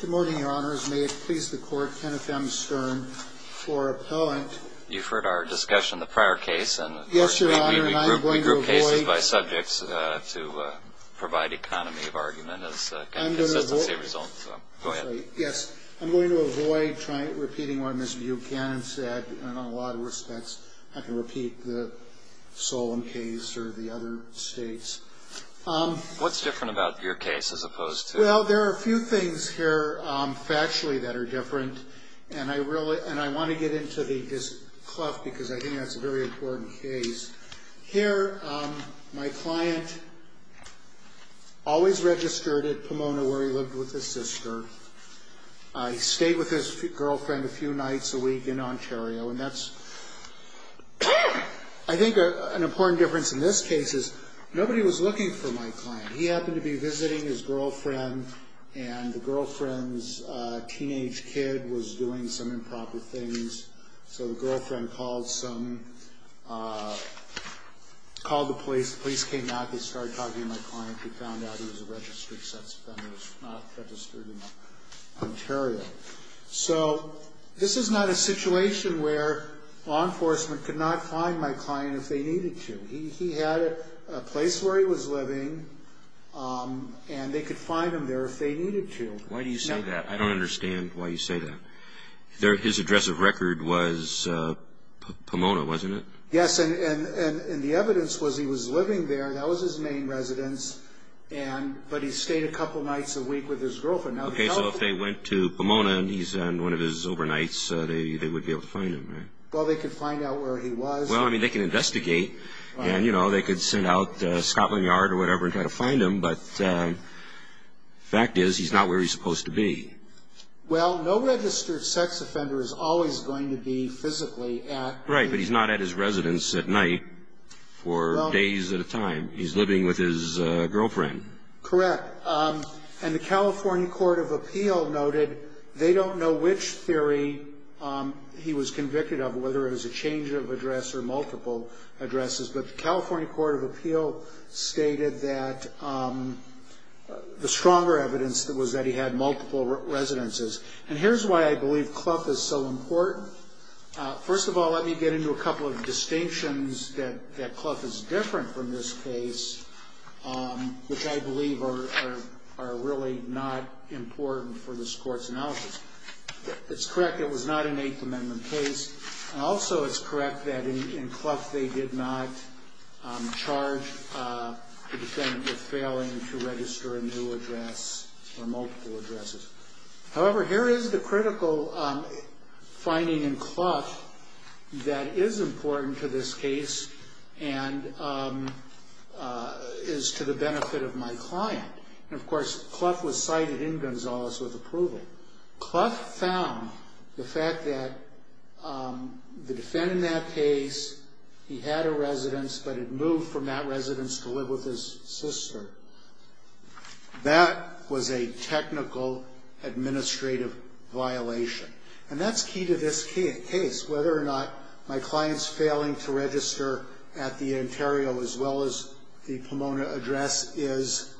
Good morning, Your Honors. May it please the Court, Kenneth M. Stern for appellant. You've heard our discussion, the prior case. Yes, Your Honor, and I'm going to avoid- We group cases by subjects to provide economy of argument as a consistency result. I'm going to avoid- Go ahead. Yes, I'm going to avoid repeating what Ms. Buchanan said in a lot of respects. I can repeat the Solon case or the other states. What's different about your case as opposed to- Well, there are a few things here factually that are different, and I want to get into this cluff because I think that's a very important case. Here, my client always registered at Pomona where he lived with his sister. He stayed with his girlfriend a few nights a week in Ontario, and that's, I think, an important difference in this case is nobody was looking for my client. He happened to be visiting his girlfriend, and the girlfriend's teenage kid was doing some improper things, so the girlfriend called the police. The police came out. They started talking to my client. They found out he was a registered sex offender. He was not registered in Ontario. So this is not a situation where law enforcement could not find my client if they needed to. He had a place where he was living, and they could find him there if they needed to. Why do you say that? I don't understand why you say that. His address of record was Pomona, wasn't it? Yes, and the evidence was he was living there. That was his main residence, but he stayed a couple nights a week with his girlfriend. Okay, so if they went to Pomona and he's in one of his overnights, they would be able to find him, right? Well, they could find out where he was. Well, I mean, they can investigate, and, you know, they could send out Scotland Yard or whatever and try to find him, but the fact is he's not where he's supposed to be. Well, no registered sex offender is always going to be physically at his residence. Right, but he's not at his residence at night for days at a time. He's living with his girlfriend. Correct, and the California Court of Appeal noted they don't know which theory he was convicted of, whether it was a change of address or multiple addresses, but the California Court of Appeal stated that the stronger evidence was that he had multiple residences, and here's why I believe Clough is so important. First of all, let me get into a couple of distinctions that Clough is different from this case, which I believe are really not important for this Court's analysis. It's correct it was not an Eighth Amendment case, and also it's correct that in Clough they did not charge the defendant with failing to register a new address or multiple addresses. However, here is the critical finding in Clough that is important to this case and is to the benefit of my client, and of course Clough was cited in Gonzales with approval. Clough found the fact that the defendant in that case, he had a residence, but had moved from that residence to live with his sister. That was a technical administrative violation, and that's key to this case, whether or not my client's failing to register at the Ontario as well as the Pomona address is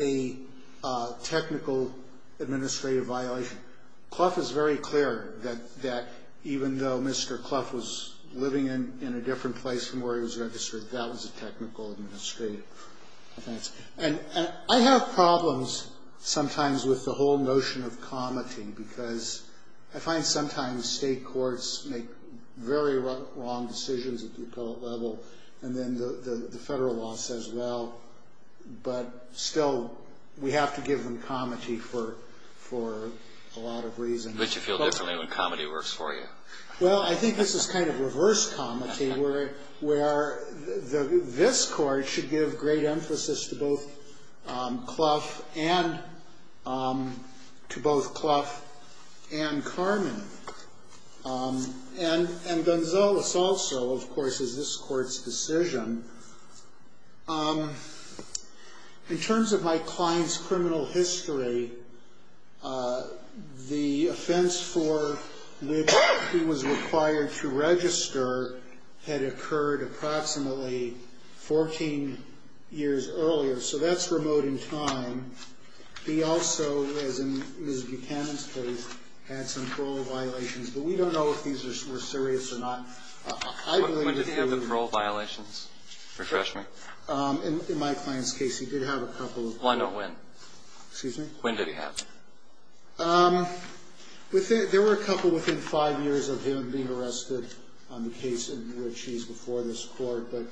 a technical administrative violation. Clough is very clear that even though Mr. Clough was living in a different place from where he was registered, that was a technical administrative offense. And I have problems sometimes with the whole notion of comity, because I find sometimes state courts make very wrong decisions at the appellate level, and then the federal law says, well, but still we have to give them comity for a lot of reasons. But you feel differently when comity works for you. Well, I think this is kind of reverse comity, where this court should give great emphasis to both Clough and Carmen. And Gonzales also, of course, is this court's decision. In terms of my client's criminal history, the offense for which he was required to register had occurred approximately 14 years earlier. So that's remote in time. He also, as in Ms. Buchanan's case, had some parole violations. But we don't know if these were serious or not. When did he have the parole violations? Refresh me. In my client's case, he did have a couple. Why not when? Excuse me? When did he have them? There were a couple within five years of him being arrested on the case in which he's before this court. But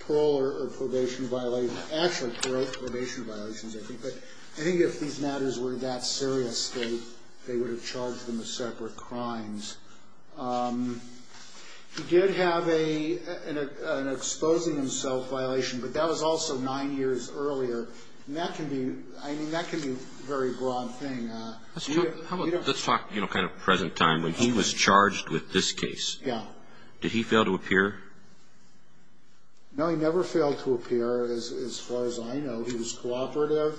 parole or probation violations, actually parole and probation violations, I think. But I think if these matters were that serious, they would have charged him with separate crimes. He did have an exposing himself violation, but that was also nine years earlier. And that can be a very broad thing. Let's talk kind of present time. When he was charged with this case, did he fail to appear? No, he never failed to appear as far as I know. He was cooperative.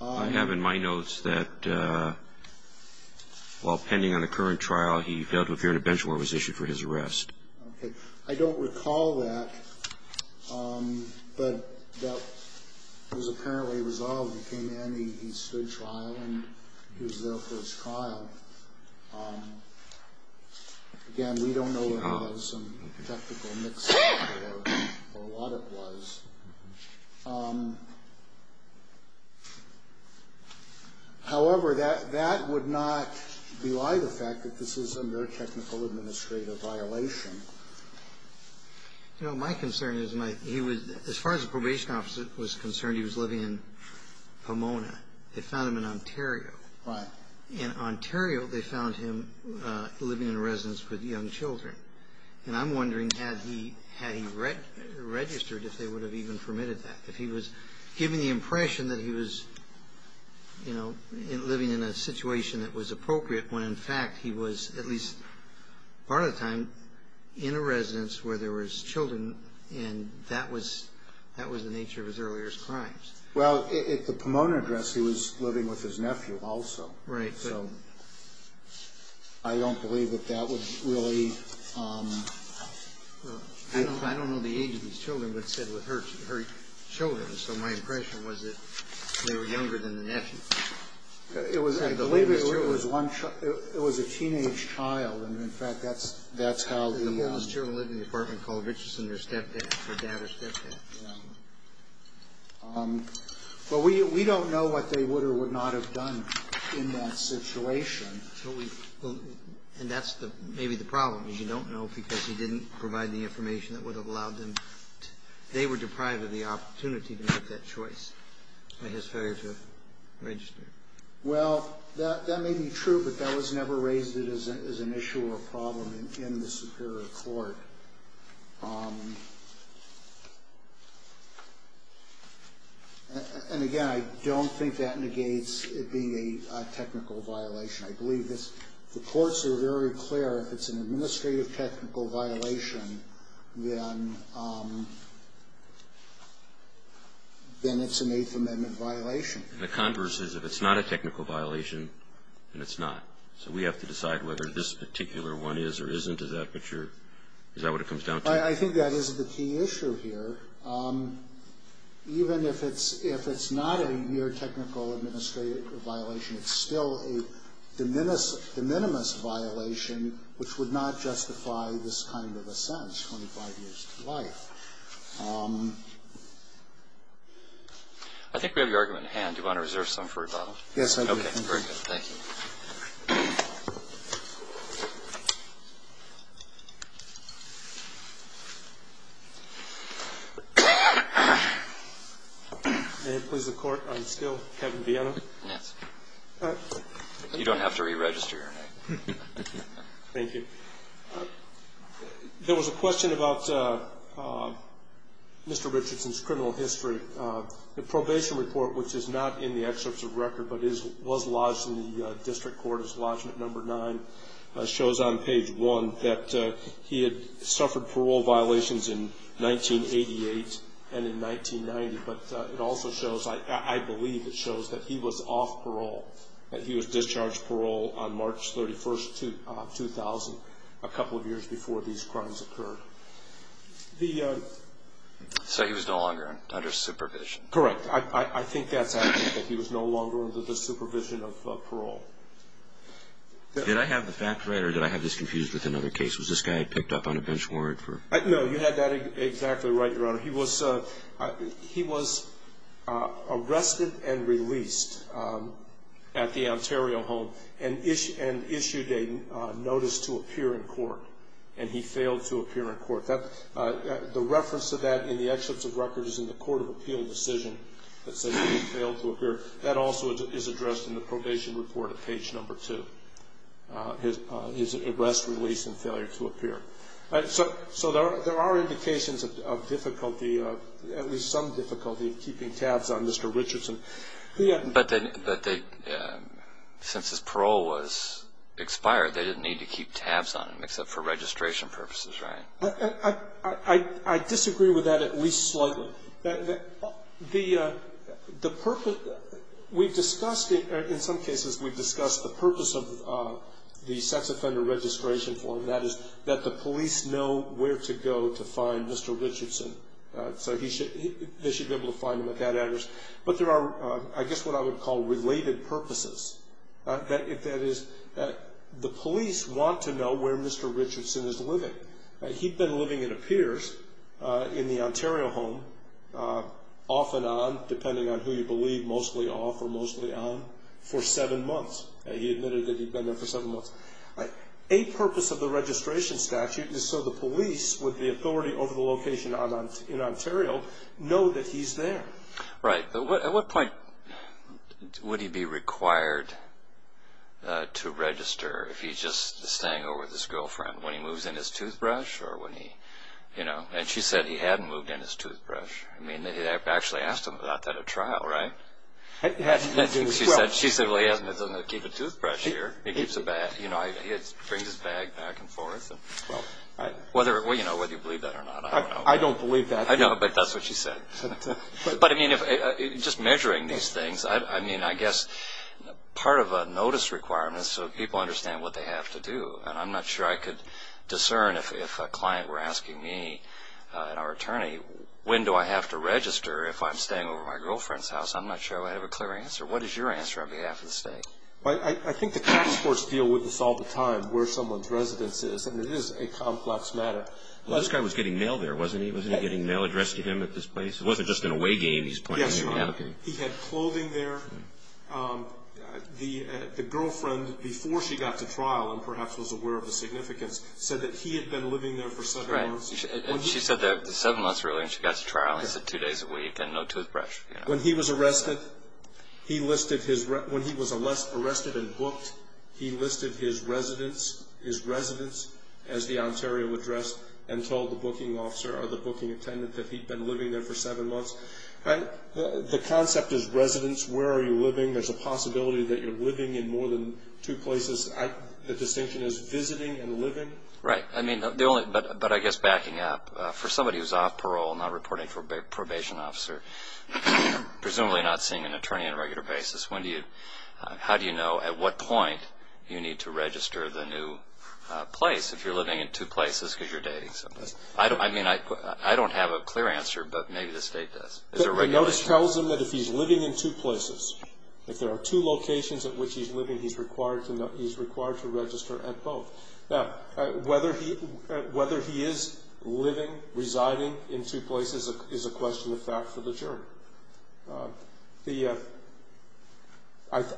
I have in my notes that while pending on the current trial, he failed to appear in a bench where he was issued for his arrest. I don't recall that. But that was apparently resolved. He came in, he stood trial, and he was there for his trial. Again, we don't know what it was, some technical mix-up or what it was. However, that would not belie the fact that this is a mere technical administrative violation. You know, my concern is, as far as the probation officer was concerned, he was living in Pomona. They found him in Ontario. Right. In Ontario, they found him living in a residence with young children. And I'm wondering, had he registered, if they would have even permitted that? If he was given the impression that he was, you know, living in a situation that was appropriate, when, in fact, he was, at least part of the time, in a residence where there was children, and that was the nature of his earlier crimes. Well, at the Pomona address, he was living with his nephew also. Right. So I don't believe that that was really the case. I don't know the age of these children, but it said with her children. So my impression was that they were younger than the nephew. It was, I believe it was one child. It was a teenage child. And, in fact, that's how the --------- But we don't know what they would or would not have done in that situation. And that's maybe the problem, is you don't know, because he didn't provide the information that would have allowed them. They were deprived of the opportunity to make that choice by his failure to register. Well, that may be true, but that was never raised as an issue or a problem in the Superior Court. And, again, I don't think that negates it being a technical violation. I believe the courts are very clear if it's an administrative technical violation, then it's an Eighth Amendment violation. And the converse is if it's not a technical violation, then it's not. So we have to decide whether this particular one is or isn't. Is that what it comes down to? I think that is the key issue here. Even if it's not a mere technical administrative violation, it's still a de minimis violation, which would not justify this kind of a sentence, 25 years to life. I think we have your argument at hand. Do you want to reserve some for rebuttal? Yes, I do. Okay. Very good. Thank you. May it please the Court, I'm still Kevin Viano. Yes. You don't have to re-register your name. Thank you. There was a question about Mr. Richardson's criminal history. The probation report, which is not in the excerpts of record, but was lodged in the district court as lodgment number nine, shows on page one that he had suffered parole violations in 1988 and in 1990. I believe it shows that he was off parole, that he was discharged parole on March 31, 2000, a couple of years before these crimes occurred. So he was no longer under supervision. Correct. I think that's accurate, that he was no longer under the supervision of parole. Did I have the facts right, or did I have this confused with another case? Was this guy picked up on a bench warrant? No, you had that exactly right, Your Honor. He was arrested and released at the Ontario home and issued a notice to appear in court, and he failed to appear in court. The reference to that in the excerpts of record is in the court of appeal decision that says he failed to appear. That also is addressed in the probation report at page number two, his arrest, release, and failure to appear. So there are indications of difficulty, at least some difficulty, of keeping tabs on Mr. Richardson. But since his parole was expired, they didn't need to keep tabs on him except for registration purposes, right? I disagree with that at least slightly. The purpose we've discussed in some cases, we've discussed the purpose of the sex offender registration form, and that is that the police know where to go to find Mr. Richardson. So they should be able to find him at that address. But there are, I guess, what I would call related purposes. That is, the police want to know where Mr. Richardson is living. He'd been living, it appears, in the Ontario home off and on, depending on who you believe, mostly off or mostly on, for seven months. He admitted that he'd been there for seven months. A purpose of the registration statute is so the police, with the authority over the location in Ontario, know that he's there. Right. At what point would he be required to register if he's just staying over with his girlfriend? When he moves in his toothbrush or when he, you know? And she said he hadn't moved in his toothbrush. I mean, they actually asked him about that at trial, right? She said, well, he doesn't keep a toothbrush here. He brings his bag back and forth. Whether you believe that or not, I don't know. I don't believe that. I know, but that's what she said. But, I mean, just measuring these things, I mean, I guess part of a notice requirement is so people understand what they have to do. And I'm not sure I could discern if a client were asking me and our attorney, when do I have to register if I'm staying over at my girlfriend's house? I'm not sure I have a clear answer. What is your answer on behalf of the state? I think the tax courts deal with this all the time, where someone's residence is. I mean, it is a complex matter. This guy was getting mail there, wasn't he? Wasn't he getting mail addressed to him at this place? It wasn't just an away game he's playing. Yes, sir. He had clothing there. The girlfriend, before she got to trial and perhaps was aware of the significance, said that he had been living there for seven months. She said that seven months earlier when she got to trial. He said two days a week and no toothbrush. When he was arrested and booked, he listed his residence as the Ontario address and told the booking officer or the booking attendant that he'd been living there for seven months. The concept is residence. Where are you living? There's a possibility that you're living in more than two places. The distinction is visiting and living. Right. I mean, but I guess backing up, for somebody who's off parole, not reporting for probation officer, presumably not seeing an attorney on a regular basis, how do you know at what point you need to register the new place if you're living in two places because you're dating someone? I mean, I don't have a clear answer, but maybe the state does. The notice tells him that if he's living in two places, if there are two locations at which he's living, he's required to register at both. Now, whether he is living, residing in two places is a question of fact for the jury.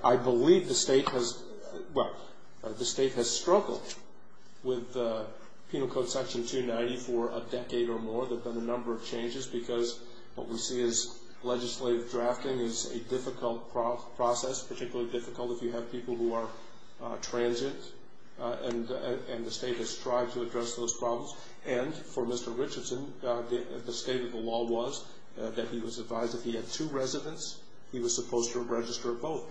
I believe the state has struggled with Penal Code Section 290 for a decade or more. There have been a number of changes because what we see is legislative drafting is a difficult process, particularly difficult if you have people who are transient, and the state has tried to address those problems. And for Mr. Richardson, the state of the law was that he was advised if he had two residents, he was supposed to register at both.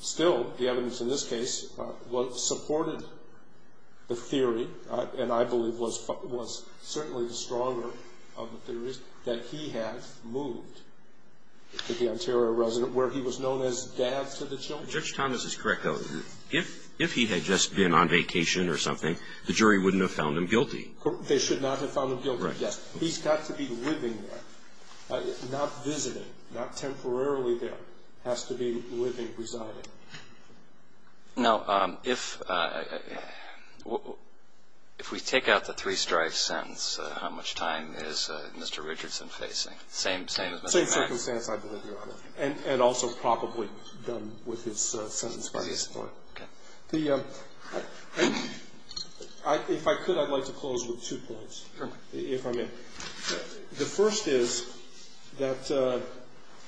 Still, the evidence in this case supported the theory, and I believe was certainly the stronger of the theories, that he had moved to the Ontario resident where he was known as dad to the children. Judge Thomas is correct, though. If he had just been on vacation or something, the jury wouldn't have found him guilty. They should not have found him guilty, yes. He's got to be living there, not visiting, not temporarily there. He has to be living, residing. Now, if we take out the three-strife sentence, how much time is Mr. Richardson facing? Same as Mr. Mack? Same circumstance, I believe, Your Honor, and also probably done with his sentence by this Court. Okay. If I could, I'd like to close with two points, if I may. The first is that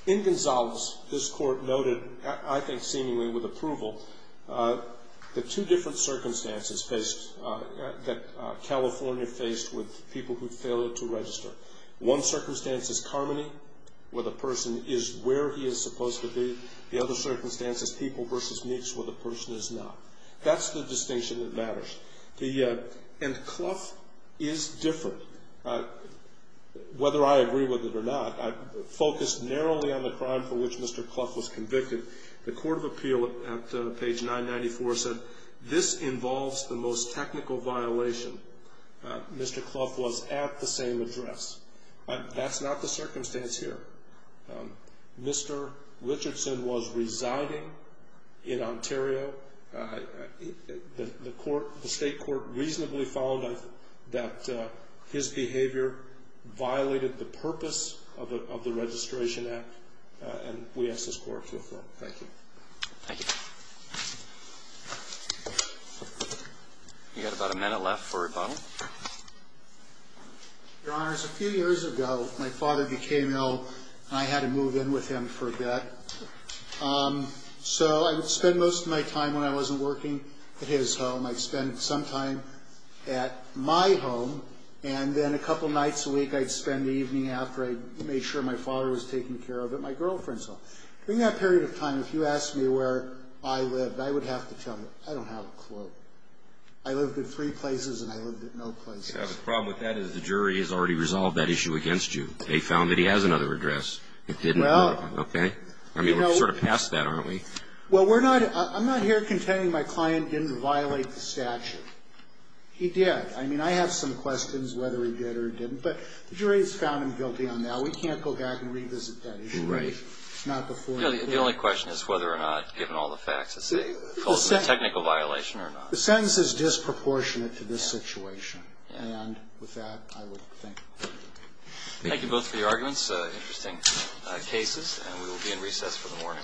in Gonzales, this Court noted, I think seemingly with approval, the two different circumstances that California faced with people who failed to register. One circumstance is Carmody, where the person is where he is supposed to be. The other circumstance is People v. Meeks, where the person is not. That's the distinction that matters. And Clough is different, whether I agree with it or not. I focused narrowly on the crime for which Mr. Clough was convicted. The Court of Appeal at page 994 said, This involves the most technical violation. Mr. Clough was at the same address. That's not the circumstance here. Mr. Richardson was residing in Ontario. The State Court reasonably found that his behavior violated the purpose of the Registration Act, and we ask this Court to affirm. Thank you. Thank you. You've got about a minute left for rebuttal. Your Honors, a few years ago, my father became ill, and I had to move in with him for a bit. So I would spend most of my time when I wasn't working at his home. I'd spend some time at my home, and then a couple nights a week, I'd spend the evening after I made sure my father was taken care of at my girlfriend's home. During that period of time, if you asked me where I lived, I would have to tell you, I don't have a clue. I lived in three places, and I lived in no places. The problem with that is the jury has already resolved that issue against you. They found that he has another address. Okay. I mean, we're sort of past that, aren't we? Well, I'm not here contending my client didn't violate the statute. He did. I mean, I have some questions whether he did or didn't, but the jury has found him guilty on that. We can't go back and revisit that issue. Right. The only question is whether or not, given all the facts, it's a technical violation or not. The sentence is disproportionate to this situation. And with that, I would thank you. Thank you both for your arguments. Interesting cases, and we will be in recess for the morning.